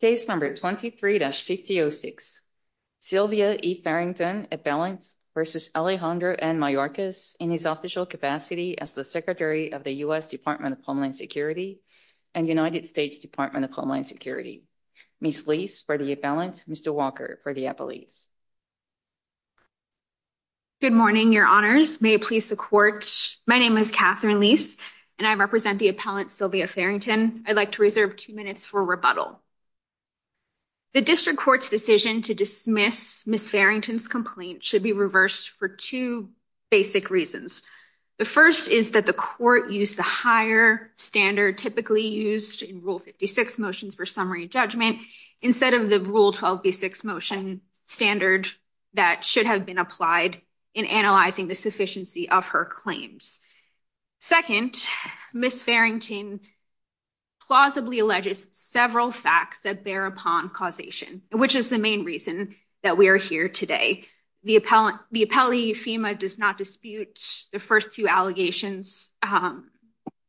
Case number 23-5006, Sylvia E. Farrington, appellant, v. Alejandro N. Mayorkas, in his official capacity as the Secretary of the U.S. Department of Homeland Security and United States Department of Homeland Security. Ms. Leis for the appellant, Mr. Walker for the appellate. Good morning, your honors. May it please the court, my name is Catherine Leis and I represent the appellant Sylvia Farrington. Again, I'd like to reserve two minutes for rebuttal. The district court's decision to dismiss Ms. Farrington's complaint should be reversed for two basic reasons. The first is that the court used the higher standard typically used in Rule 56 motions for summary judgment instead of the Rule 12b6 motion standard that should have been applied in analyzing the sufficiency of her claims. Second, Ms. Farrington plausibly alleges several facts that bear upon causation, which is the main reason that we are here today. The appellee, Efima, does not dispute the first two allegations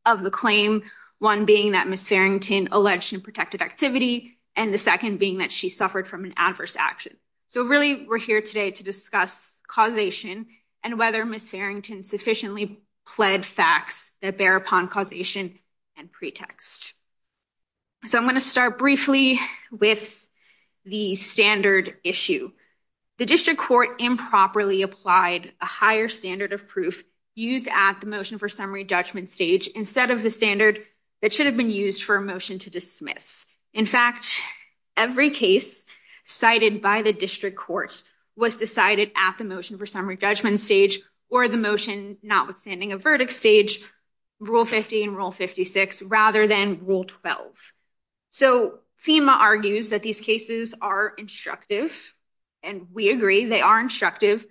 of the claim, one being that Ms. Farrington alleged unprotected activity and the second being that she suffered from an adverse action. So really, we're here today to discuss causation and whether Ms. Farrington sufficiently pled facts that bear upon causation and pretext. So I'm going to start briefly with the standard issue. The district court improperly applied a higher standard of proof used at the motion for summary judgment stage instead of the standard that should have been used for a motion to dismiss. In fact, every case cited by the district court was decided at the motion for summary judgment stage or the motion notwithstanding a verdict stage, Rule 50 and Rule 56, rather than Rule 12. So Efima argues that these cases are instructive, and we agree they are instructive,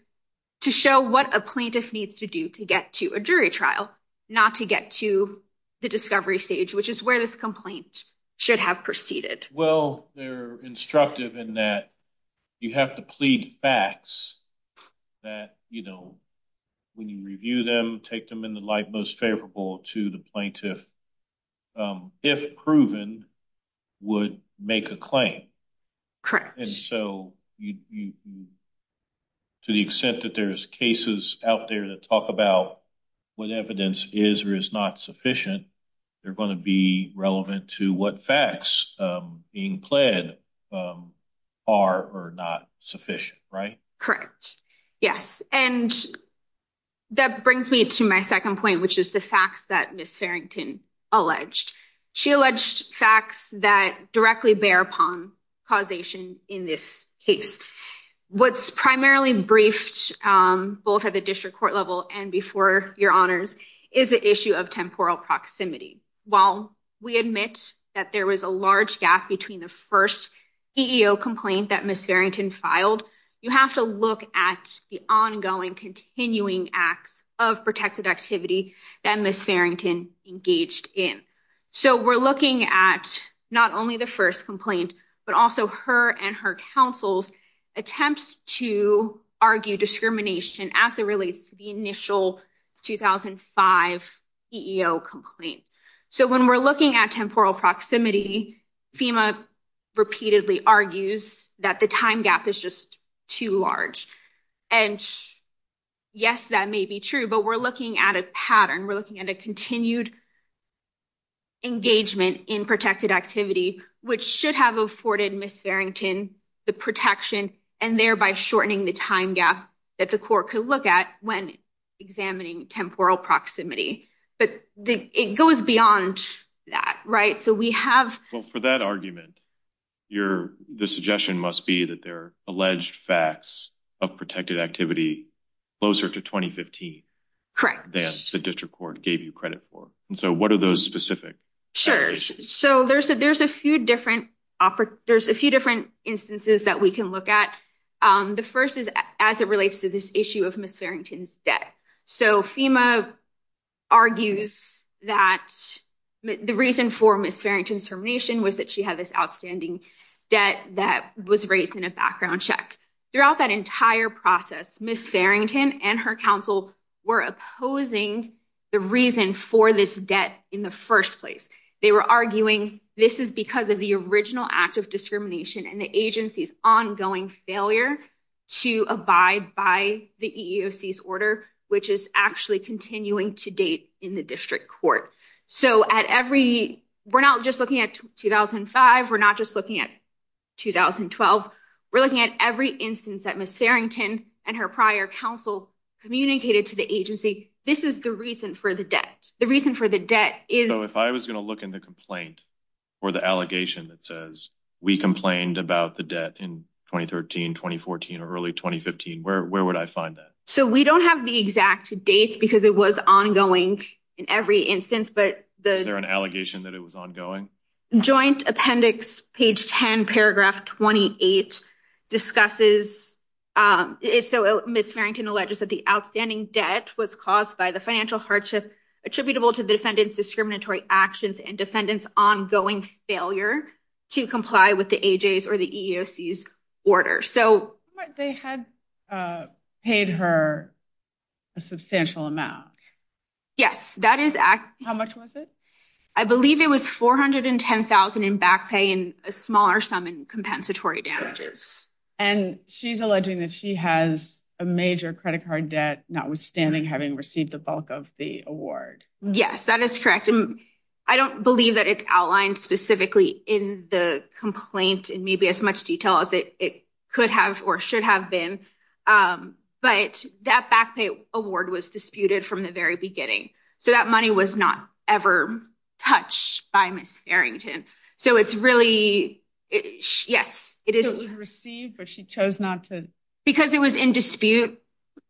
to show what a plaintiff needs to do to get to a jury trial, not to get to the discovery stage, which is where this complaint should have proceeded. Well, they're instructive in that you have to plead facts that, you know, when you review them, take them in the light most favorable to the plaintiff, if proven, would make a claim. And so to the extent that there's cases out there that talk about what evidence is or is not sufficient, they're going to be relevant to what facts being pled are or not sufficient, right? Correct. Yes. And that brings me to my second point, which is the facts that Ms. Farrington alleged. She alleged facts that directly bear upon causation in this case. What's primarily briefed both at the district court level and before your honors is the issue of temporal proximity. While we admit that there was a large gap between the first EEO complaint that Ms. Farrington filed, you have to look at the ongoing continuing acts of protected activity that Ms. Farrington engaged in. So we're looking at not only the first complaint, but also her and her counsel's attempts to argue discrimination as it relates to the initial 2005 EEO complaint. So when we're looking at temporal proximity, FEMA repeatedly argues that the time gap is just too large. And yes, that may be true, but we're looking at a pattern. We're looking at a continued engagement in protected activity, which should have afforded Ms. Farrington the protection and thereby shortening the time gap that the court could look at when examining temporal proximity. But it goes beyond that, right? So we have... Well, for that argument, the suggestion must be that there are alleged facts of protected activity closer to 2015. Correct. That the district court gave you credit for. And so what are those specific allegations? Sure. So there's a few different instances that we can look at. The first is as it relates to this issue of Ms. Farrington's debt. So FEMA argues that the reason for Ms. Farrington's termination was that she had this outstanding debt that was raised in a background check. Throughout that entire process, Ms. Farrington and her counsel were opposing the reason for this debt in the first place. They were arguing this is because of the original act of discrimination and the agency's ongoing failure to abide by the EEOC's order, which is actually continuing to date in the district court. So we're not just looking at 2005. We're not just looking at 2012. We're looking at every instance that Ms. Farrington and her prior counsel communicated to the agency. This is the reason for the debt. The reason for the debt is... So if I was going to look in the complaint or the allegation that says we complained about the debt in 2013, 2014, or early 2015, where would I find that? So we don't have the exact dates because it was ongoing in every instance, but... Is there an allegation that it was ongoing? Joint Appendix, page 10, paragraph 28 discusses... So Ms. Farrington alleges that the outstanding debt was caused by the financial hardship attributable to the defendant's discriminatory actions and defendant's ongoing failure to comply with the AJ's or the EEOC's order. They had paid her a substantial amount. Yes, that is... How much was it? I believe it was $410,000 in back pay and a smaller sum in compensatory damages. And she's alleging that she has a major credit card debt, notwithstanding having received the bulk of the award. Yes, that is correct. And I don't believe that it's outlined specifically in the complaint in maybe as much detail as it could have or should have been. But that back pay award was disputed from the very beginning. So that money was not ever touched by Ms. Farrington. So it's really... Yes, it is... It was received, but she chose not to... Because it was in dispute,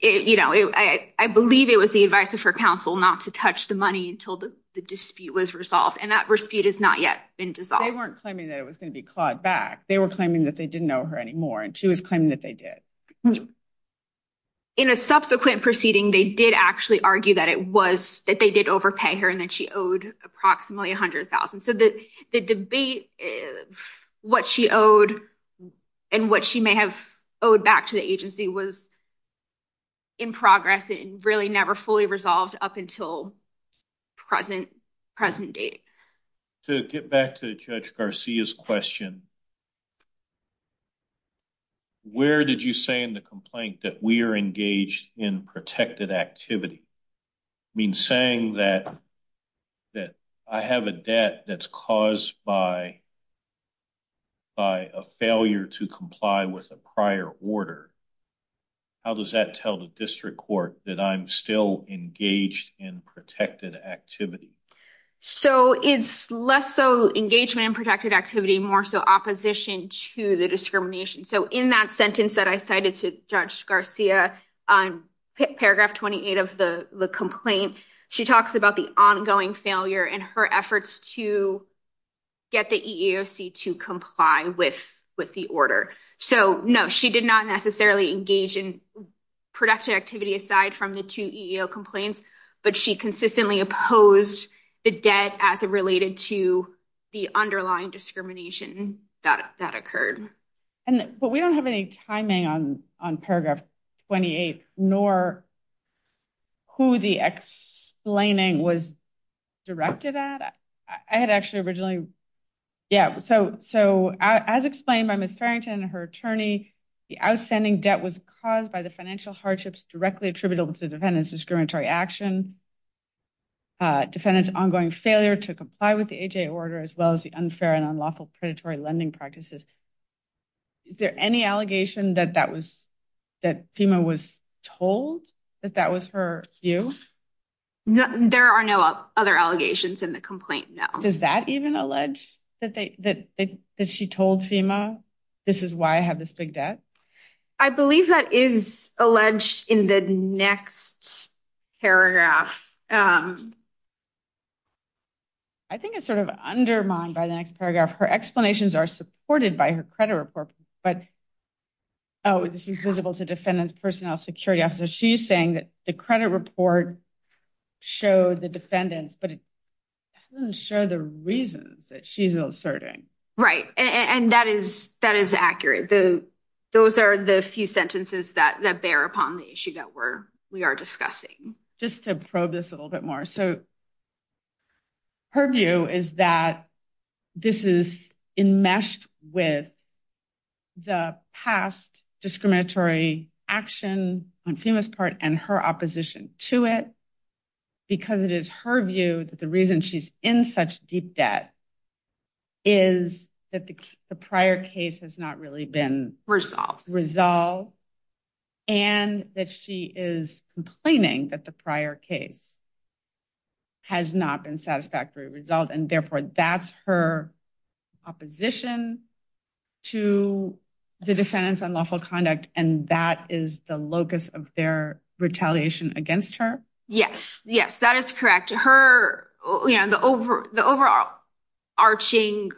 you know, I believe it was the advice of her counsel not to touch the money until the dispute was resolved. And that dispute has not yet been dissolved. They weren't claiming that it was going to be clawed back. They were claiming that they didn't owe her anymore. And she was claiming that they did. In a subsequent proceeding, they did actually argue that it was... that they did overpay her and that she owed approximately $100,000. So the debate, what she owed and what she may have owed back to the agency was in progress and really never fully resolved up until present date. To get back to Judge Garcia's question, where did you say in the complaint that we are engaged in protected activity? I mean, saying that I have a debt that's caused by a failure to comply with a prior order. How does that tell the district court that I'm still engaged in protected activity? So it's less so engagement in protected activity, more so opposition to the discrimination. So in that sentence that I cited to Judge Garcia, paragraph 28 of the complaint, she talks about the ongoing failure in her efforts to get the EEOC to comply with the order. So no, she did not necessarily engage in protected activity aside from the two EEO complaints, but she consistently opposed the debt as it related to the underlying discrimination that occurred. But we don't have any timing on paragraph 28, nor who the explaining was directed at. I had actually originally. Yeah. So so as explained by Miss Farrington, her attorney, the outstanding debt was caused by the financial hardships directly attributable to defendants, discriminatory action. Defendants ongoing failure to comply with the order, as well as the unfair and unlawful predatory lending practices. Is there any allegation that that was that FEMA was told that that was her view? There are no other allegations in the complaint. Now, does that even allege that that that she told FEMA this is why I have this big debt? I believe that is alleged in the next paragraph. I think it's sort of undermined by the next paragraph. Her explanations are supported by her credit report. But. Oh, this is visible to defendants, personnel, security officer, she's saying that the credit report showed the defendants, but it doesn't show the reasons that she's inserting. Right. And that is that is accurate. The those are the few sentences that that bear upon the issue that we're we are discussing just to probe this a little bit more. So. Her view is that this is enmeshed with. The past discriminatory action on FEMA's part and her opposition to it. Because it is her view that the reason she's in such deep debt. Is that the prior case has not really been resolved and that she is complaining that the prior case. Has not been satisfactory result, and therefore that's her opposition to the defendants on lawful conduct, and that is the locus of their retaliation against her. Yes, yes, that is correct. Her the over the overall. Arching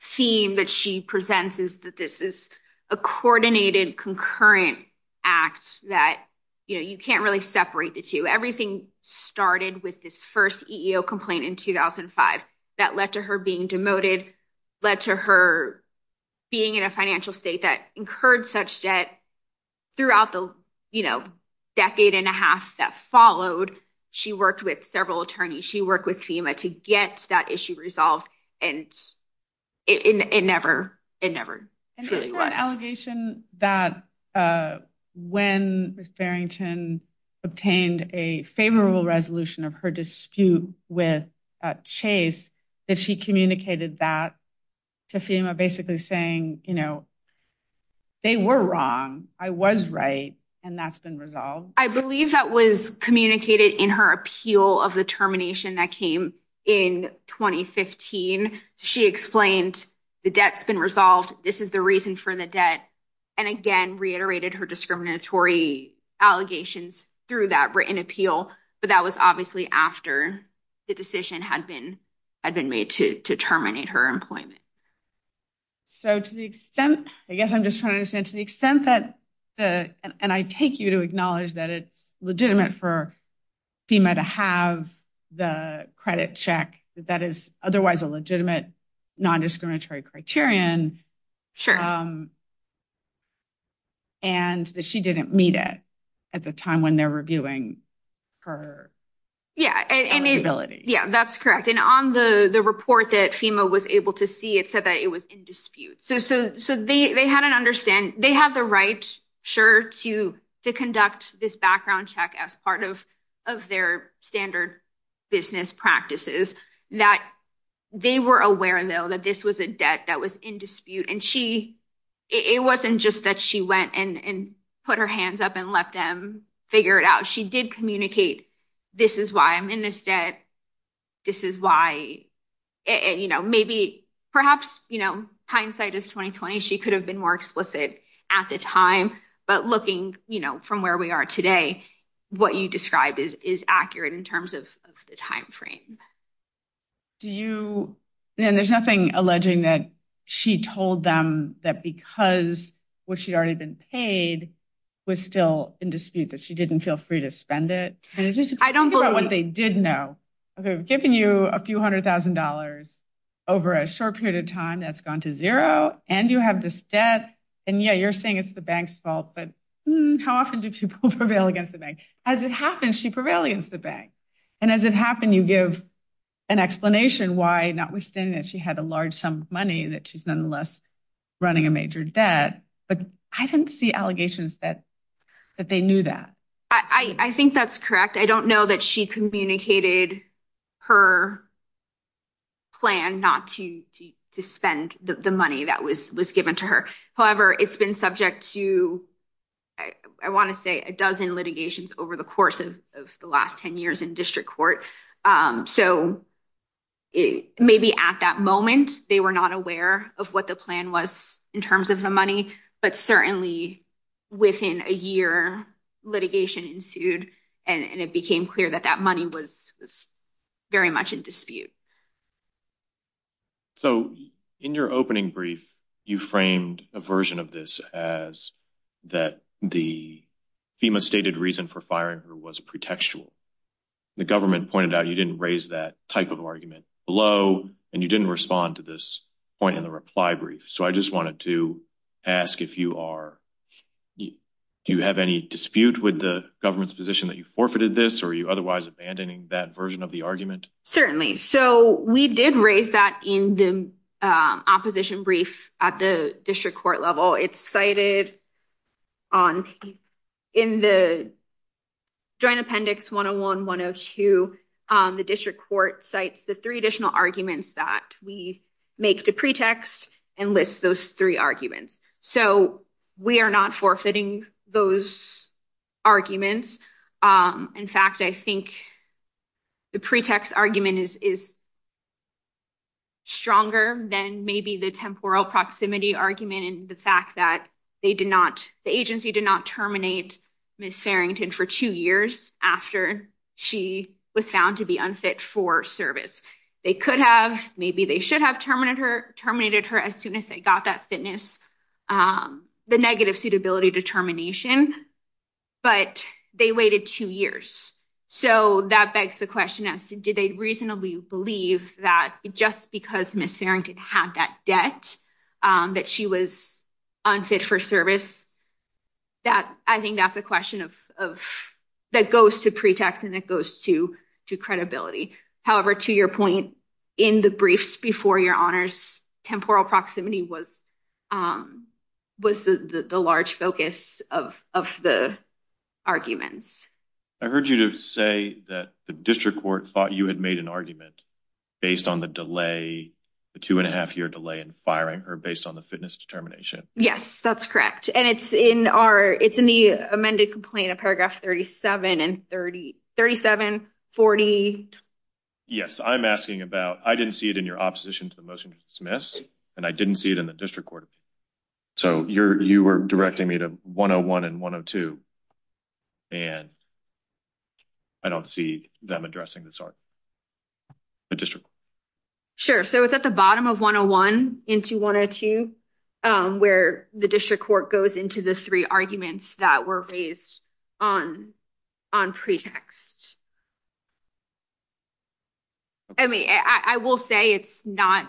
theme that she presents is that this is a coordinated concurrent act that, you know, you can't really separate the two. Everything started with this 1st complaint in 2005 that led to her being demoted. Led to her being in a financial state that incurred such debt throughout the, you know, decade and a half that followed. She worked with several attorneys. She worked with FEMA to get that issue resolved. It never, it never really was. Allegation that when Miss Farrington obtained a favorable resolution of her dispute with Chase, that she communicated that to FEMA, basically saying, you know. They were wrong. I was right. And that's been resolved. I believe that was communicated in her appeal of the termination that came in 2015. She explained the debt's been resolved. This is the reason for the debt. And again, reiterated her discriminatory allegations through that written appeal. But that was obviously after the decision had been had been made to terminate her employment. So, to the extent, I guess I'm just trying to understand to the extent that the and I take you to acknowledge that it's legitimate for FEMA to have the credit check that is otherwise a legitimate non-discriminatory criterion. Sure. And that she didn't meet it at the time when they're reviewing her. Yeah, yeah, that's correct. And on the report that FEMA was able to see, it said that it was in dispute. So, so, so they they had an understand they have the right sure to to conduct this background check as part of of their standard business practices that they were aware, though, that this was a debt that was in dispute. And she it wasn't just that she went and put her hands up and let them figure it out. She did communicate. This is why I'm in this debt. This is why, you know, maybe perhaps, you know, hindsight is twenty twenty. She could have been more explicit at the time. But looking from where we are today, what you described is is accurate in terms of the time frame. Do you and there's nothing alleging that she told them that because what she'd already been paid was still in dispute, that she didn't feel free to spend it. And I don't know what they did know. I've given you a few hundred thousand dollars over a short period of time that's gone to zero. And you have this debt. And, yeah, you're saying it's the bank's fault. But how often do people prevail against the bank as it happens? She prevails against the bank. And as it happened, you give an explanation why notwithstanding that she had a large sum of money, that she's nonetheless running a major debt. But I didn't see allegations that that they knew that. I think that's correct. I don't know that she communicated her. Plan not to to spend the money that was was given to her. However, it's been subject to, I want to say, a dozen litigations over the course of the last 10 years in district court. So maybe at that moment, they were not aware of what the plan was in terms of the money. But certainly within a year, litigation ensued and it became clear that that money was very much in dispute. So in your opening brief, you framed a version of this as that the FEMA stated reason for firing her was pretextual. The government pointed out you didn't raise that type of argument below and you didn't respond to this point in the reply brief. So I just wanted to ask if you are do you have any dispute with the government's position that you forfeited this or you otherwise abandoning that version of the argument? Certainly. So we did raise that in the opposition brief at the district court level. It's cited in the Joint Appendix 101-102. The district court cites the three additional arguments that we make the pretext and lists those three arguments. So we are not forfeiting those arguments. In fact, I think the pretext argument is stronger than maybe the temporal proximity argument and the fact that they did not the agency did not terminate Miss Farrington for two years after she was found to be unfit for service. They could have maybe they should have terminated her as soon as they got that fitness, the negative suitability determination. But they waited two years. So that begs the question as to did they reasonably believe that just because Miss Farrington had that debt that she was unfit for service? That I think that's a question of that goes to pretext and it goes to to credibility. However, to your point in the briefs before your honors, temporal proximity was was the large focus of of the arguments. I heard you say that the district court thought you had made an argument based on the delay, the two and a half year delay in firing her based on the fitness determination. Yes, that's correct. And it's in our it's in the amended complaint of paragraph thirty seven and thirty thirty seven forty. Yes, I'm asking about I didn't see it in your opposition to the motion to dismiss and I didn't see it in the district court. So you're you were directing me to one oh one and one of two. And I don't see them addressing this. Sure. So it's at the bottom of one oh one into one or two where the district court goes into the three arguments that were based on on pretext. I mean, I will say it's not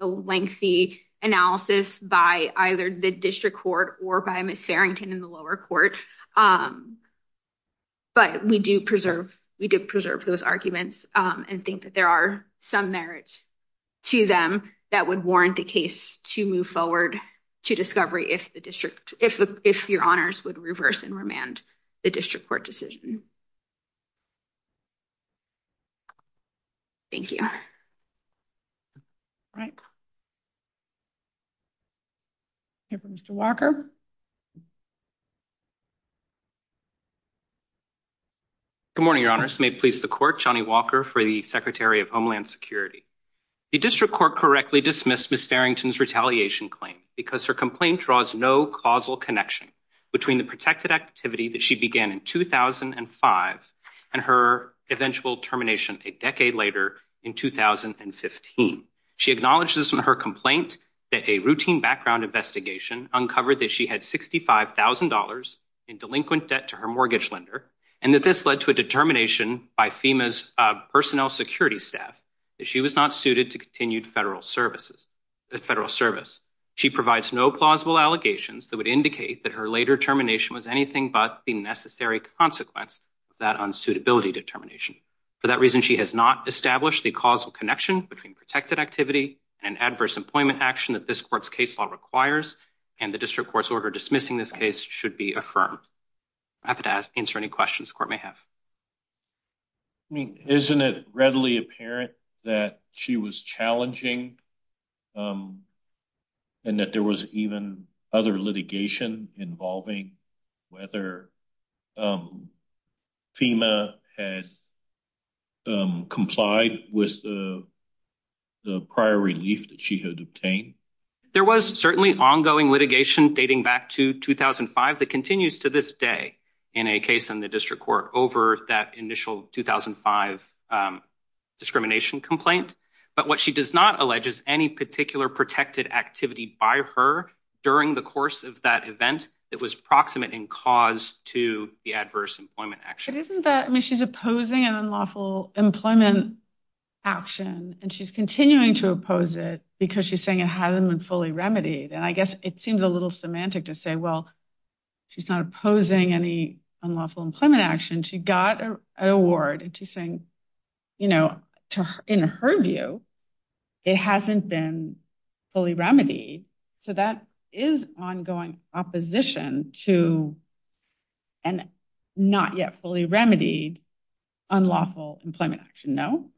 a lengthy analysis by either the district court or by Miss Farrington in the lower court. But we do preserve we do preserve those arguments and think that there are some merit to them that would warrant the case to move forward to discovery. If the district if if your honors would reverse and remand the district court decision. Thank you. Right. Mr. Walker. Good morning, your honors may please the court, Johnny Walker for the secretary of Homeland Security. The district court correctly dismissed Miss Farrington's retaliation claim because her complaint draws no causal connection between the protected activity that she began in two thousand and five. And her eventual termination a decade later in two thousand and fifteen. She acknowledges in her complaint that a routine background investigation uncovered that she had sixty five thousand dollars in delinquent debt to her mortgage lender. And that this led to a determination by FEMA's personnel security staff that she was not suited to continued federal services. She provides no plausible allegations that would indicate that her later termination was anything but the necessary consequence that unsuitability determination. For that reason, she has not established the causal connection between protected activity and adverse employment action that this court's case law requires. And the district court's order dismissing this case should be affirmed. Answer any questions the court may have. I mean, isn't it readily apparent that she was challenging and that there was even other litigation involving whether FEMA has complied with the prior relief that she had obtained? There was certainly ongoing litigation dating back to 2005 that continues to this day in a case in the district court over that initial 2005 discrimination complaint. But what she does not allege is any particular protected activity by her during the course of that event that was proximate in cause to the adverse employment action. But isn't that I mean, she's opposing an unlawful employment action and she's continuing to oppose it because she's saying it hasn't been fully remedied. And I guess it seems a little semantic to say, well, she's not opposing any unlawful employment action. She got an award and she's saying, you know, in her view, it hasn't been fully remedied. So that is ongoing opposition to and not yet fully remedied unlawful employment action. No,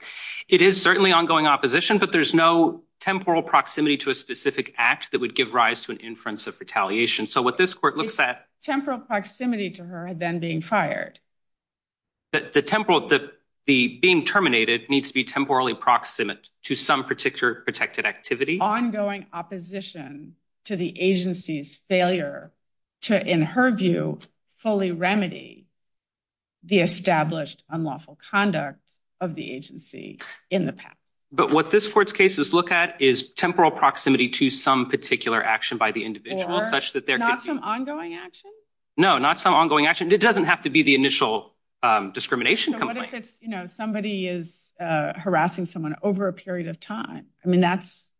it is certainly ongoing opposition, but there's no temporal proximity to a specific act that would give rise to an inference of retaliation. So what this court looks at temporal proximity to her then being fired. The temporal that the being terminated needs to be temporally proximate to some particular protected activity, ongoing opposition to the agency's failure to, in her view, fully remedy. The established unlawful conduct of the agency in the past, but what this court's cases look at is temporal proximity to some particular action by the individual such that they're not some ongoing action. No, not some ongoing action. It doesn't have to be the initial discrimination. You know, somebody is harassing someone over a period of time. I mean, that's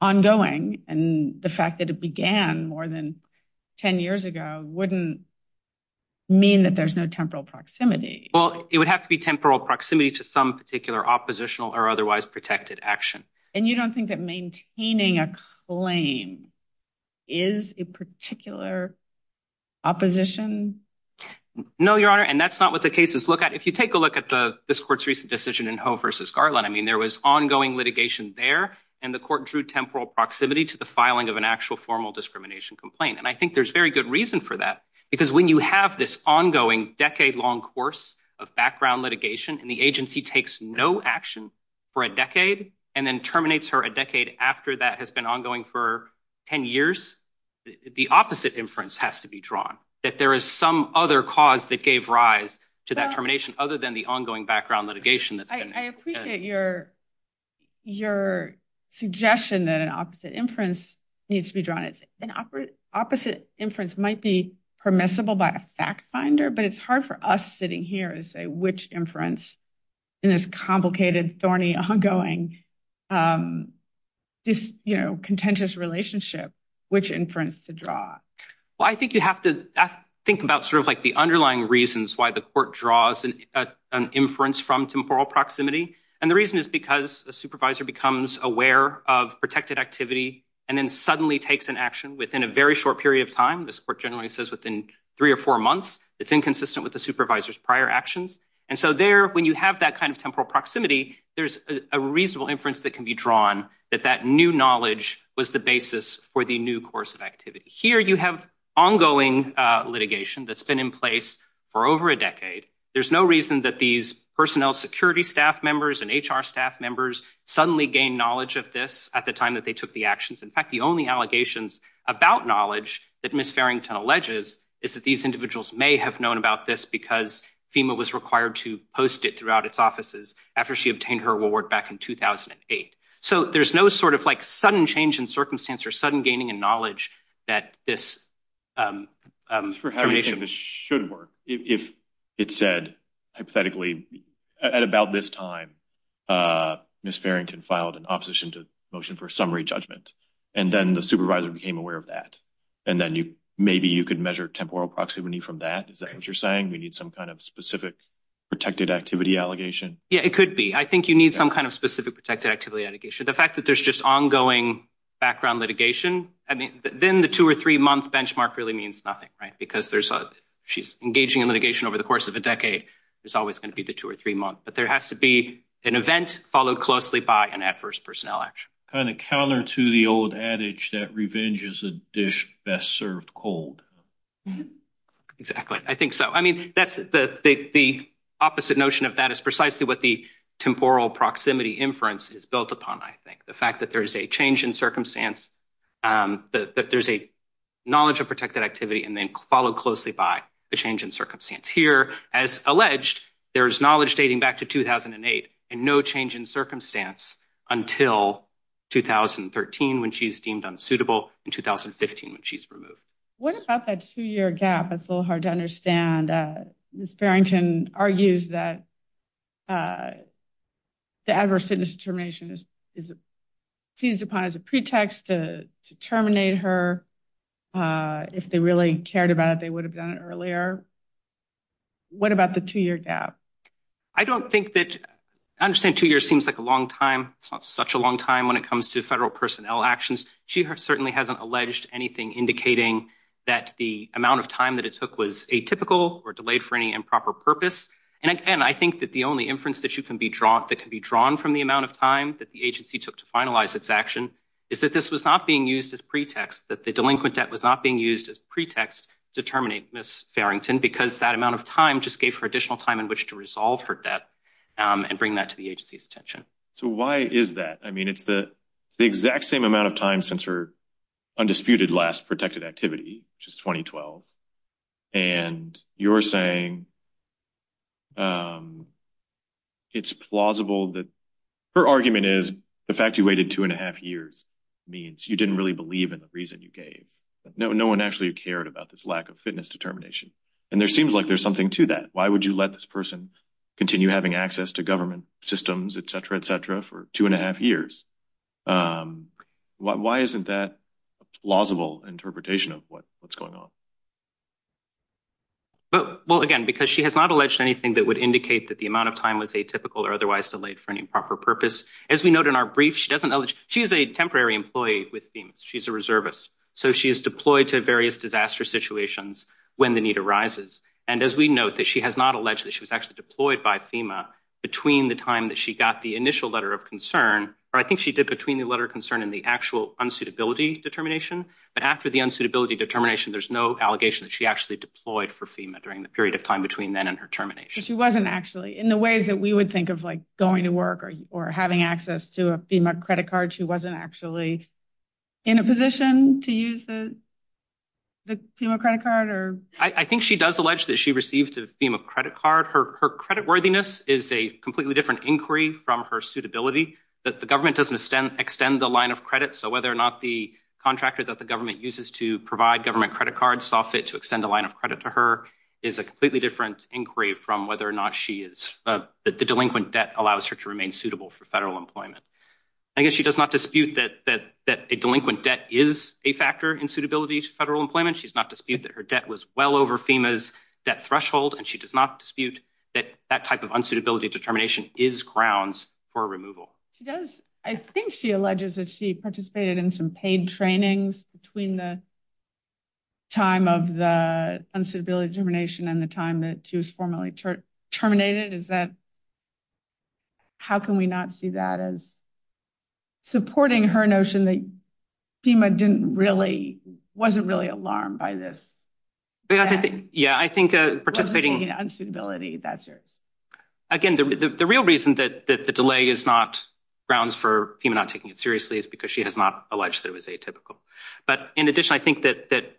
ongoing. And the fact that it began more than 10 years ago wouldn't mean that there's no temporal proximity. Well, it would have to be temporal proximity to some particular oppositional or otherwise protected action. And you don't think that maintaining a claim is a particular opposition? No, Your Honor. And that's not what the cases look at. If you take a look at this court's recent decision in Ho versus Garland, I mean, there was ongoing litigation there. And the court drew temporal proximity to the filing of an actual formal discrimination complaint. And I think there's very good reason for that, because when you have this ongoing decade long course of background litigation and the agency takes no action for a decade and then terminates her a decade after that has been ongoing for 10 years. The opposite inference has to be drawn that there is some other cause that gave rise to that termination other than the ongoing background litigation. I appreciate your your suggestion that an opposite inference needs to be drawn. It's an opposite inference might be permissible by a fact finder. But it's hard for us sitting here to say which inference in this complicated, thorny, ongoing contentious relationship, which inference to draw. Well, I think you have to think about sort of like the underlying reasons why the court draws an inference from temporal proximity. And the reason is because a supervisor becomes aware of protected activity and then suddenly takes an action within a very short period of time. This court generally says within three or four months, it's inconsistent with the supervisor's prior actions. And so there, when you have that kind of temporal proximity, there's a reasonable inference that can be drawn that that new knowledge was the basis for the new course of activity. Here you have ongoing litigation that's been in place for over a decade. There's no reason that these personnel security staff members and HR staff members suddenly gain knowledge of this at the time that they took the actions. In fact, the only allegations about knowledge that Miss Farrington alleges is that these individuals may have known about this because FEMA was required to post it throughout its offices after she obtained her award back in 2008. So there's no sort of like sudden change in circumstance or sudden gaining in knowledge that this should work. If it said hypothetically at about this time, Miss Farrington filed an opposition to motion for summary judgment. And then the supervisor became aware of that. And then you maybe you could measure temporal proximity from that. Is that what you're saying? We need some kind of specific protected activity allegation. Yeah, it could be. I think you need some kind of specific protected activity allegation. The fact that there's just ongoing background litigation, I mean, then the two or three month benchmark really means nothing. Right. Because there's she's engaging in litigation over the course of a decade. There's always going to be the two or three month. But there has to be an event followed closely by an adverse personnel action. Kind of counter to the old adage that revenge is a dish best served cold. Exactly. I think so. I mean, that's the opposite notion of that is precisely what the temporal proximity inference is built upon. I think the fact that there is a change in circumstance, that there's a knowledge of protected activity and then followed closely by a change in circumstance here. As alleged, there is knowledge dating back to 2008 and no change in circumstance until 2013 when she's deemed unsuitable in 2015 when she's removed. What about that two year gap? It's a little hard to understand. Miss Farrington argues that the adverse fitness termination is seized upon as a pretext to terminate her. If they really cared about it, they would have done it earlier. What about the two year gap? I don't think that I understand two years seems like a long time. It's not such a long time when it comes to federal personnel actions. She certainly hasn't alleged anything indicating that the amount of time that it took was atypical or delayed for any improper purpose. And I think that the only inference that you can be drawn that can be drawn from the amount of time that the agency took to finalize its action is that this was not being used as pretext, that the delinquent debt was not being used as pretext to terminate Miss Farrington, because that amount of time just gave her additional time in which to resolve her debt and bring that to the agency's attention. So why is that? I mean, it's the exact same amount of time since her undisputed last protected activity, which is 2012. And you're saying it's plausible that her argument is the fact you waited two and a half years means you didn't really believe in the reason you gave. No, no one actually cared about this lack of fitness determination. And there seems like there's something to that. Why would you let this person continue having access to government systems, et cetera, et cetera, for two and a half years? Why isn't that a plausible interpretation of what what's going on? Well, again, because she has not alleged anything that would indicate that the amount of time was atypical or otherwise delayed for any proper purpose. As we note in our brief, she doesn't know that she is a temporary employee with FEMA. She's a reservist. So she is deployed to various disaster situations when the need arises. And as we note that she has not alleged that she was actually deployed by FEMA between the time that she got the initial letter of concern. I think she did between the letter of concern and the actual unsuitability determination. But after the unsuitability determination, there's no allegation that she actually deployed for FEMA during the period of time between then and her termination. She wasn't actually in the ways that we would think of, like going to work or having access to a FEMA credit card. She wasn't actually in a position to use the. I think she does allege that she received a FEMA credit card. Her credit worthiness is a completely different inquiry from her suitability, that the government doesn't extend the line of credit. So whether or not the contractor that the government uses to provide government credit cards, solve it to extend the line of credit to her is a completely different inquiry from whether or not she is that the delinquent debt allows her to remain suitable for federal employment. I guess she does not dispute that that that a delinquent debt is a factor in suitability to federal employment. She's not dispute that her debt was well over FEMA's debt threshold, and she does not dispute that that type of unsuitability determination is grounds for removal. She does. I think she alleges that she participated in some paid trainings between the time of the unsuitability determination and the time that she was formally terminated. Is that, how can we not see that as supporting her notion that FEMA didn't really, wasn't really alarmed by this? Yeah, I think participating in unsuitability, that's yours. Again, the real reason that the delay is not grounds for FEMA not taking it seriously is because she has not alleged that it was atypical. But in addition, I think that that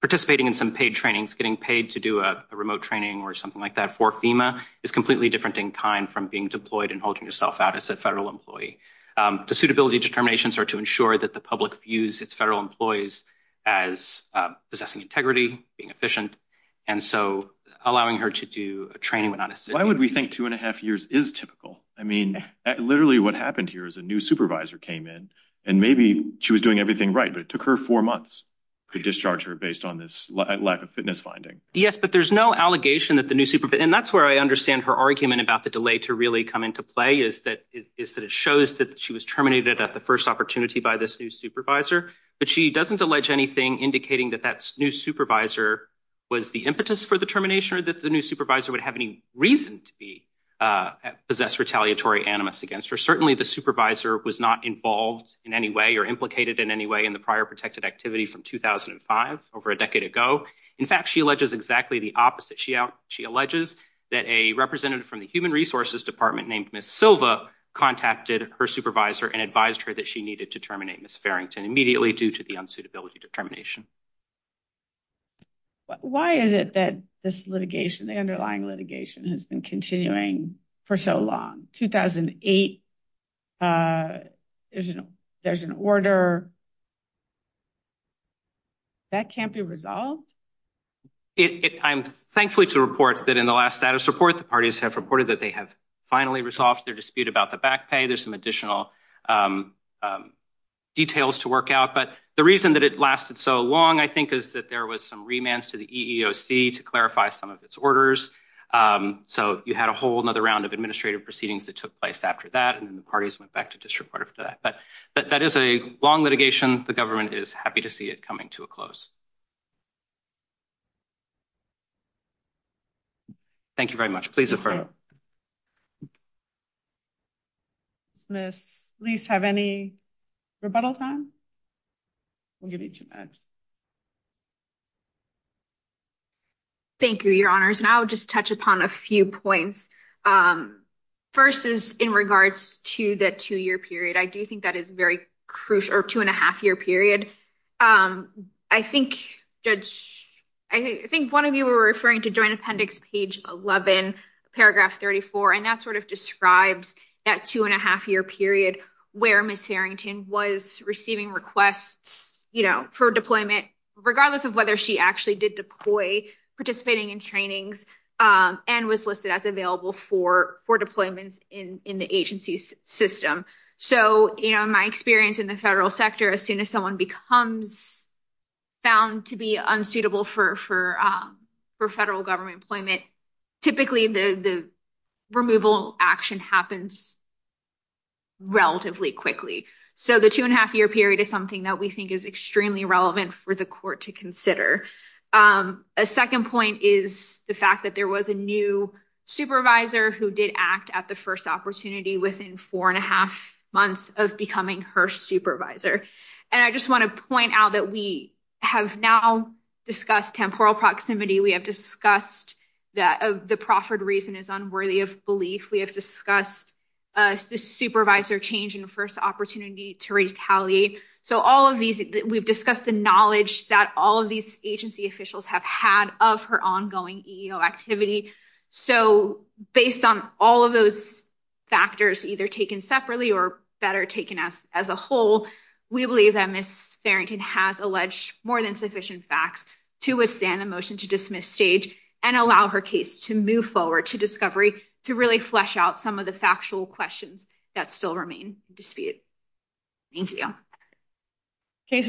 participating in some paid trainings, getting paid to do a remote training or something like that for FEMA is completely different in kind from being deployed and holding yourself out as a federal employee. The suitability determinations are to ensure that the public views its federal employees as possessing integrity, being efficient, and so allowing her to do a training would not. Why would we think two and a half years is typical? I mean, literally what happened here is a new supervisor came in, and maybe she was doing everything right, but it took her four months to discharge her based on this lack of fitness finding. Yes, but there's no allegation that the new supervisor, and that's where I understand her argument about the delay to really come into play is that it is that it shows that she was terminated at the first opportunity by this new supervisor. But she doesn't allege anything indicating that that new supervisor was the impetus for the termination or that the new supervisor would have any reason to be possess retaliatory animus against her. Certainly, the supervisor was not involved in any way or implicated in any way in the prior protected activity from 2005 over a decade ago. In fact, she alleges exactly the opposite. She alleges that a representative from the human resources department named Ms. Silva contacted her supervisor and advised her that she needed to terminate Ms. Farrington immediately due to the unsuitability determination. Why is it that this litigation, the underlying litigation has been continuing for so long? 2008, there's an order that can't be resolved? I'm thankful to report that in the last status report, the parties have reported that they have finally resolved their dispute about the back pay. There's some additional details to work out. But the reason that it lasted so long, I think, is that there was some remands to the EEOC to clarify some of its orders. So you had a whole another round of administrative proceedings that took place after that. And then the parties went back to district court after that. But that is a long litigation. The government is happy to see it coming to a close. Thank you very much. Please. Please have any rebuttal time. I'll give you two minutes. Thank you, your honors. And I'll just touch upon a few points. First is in regards to the two-year period. I do think that is very crucial, or two-and-a-half-year period. I think one of you were referring to joint appendix page 11, paragraph 34. And that sort of describes that two-and-a-half-year period where Ms. Harrington was receiving requests for deployment, regardless of whether she actually did deploy, participating in trainings, and was listed as available for deployments in the agency's system. So in my experience in the federal sector, as soon as someone becomes found to be unsuitable for federal government employment, typically the removal action happens relatively quickly. So the two-and-a-half-year period is something that we think is extremely relevant for the court to consider. A second point is the fact that there was a new supervisor who did act at the first opportunity within four-and-a-half months of becoming her supervisor. And I just want to point out that we have now discussed temporal proximity. We have discussed that the proffered reason is unworthy of belief. We have discussed the supervisor change in the first opportunity to retaliate. We have discussed the knowledge that all of these agency officials have had of her ongoing EEO activity. So based on all of those factors, either taken separately or better taken as a whole, we believe that Ms. Farrington has alleged more than sufficient facts to withstand the motion to dismiss stage and allow her case to move forward to discovery to really flesh out some of the factual questions that still remain in dispute. Thank you. Case is submitted.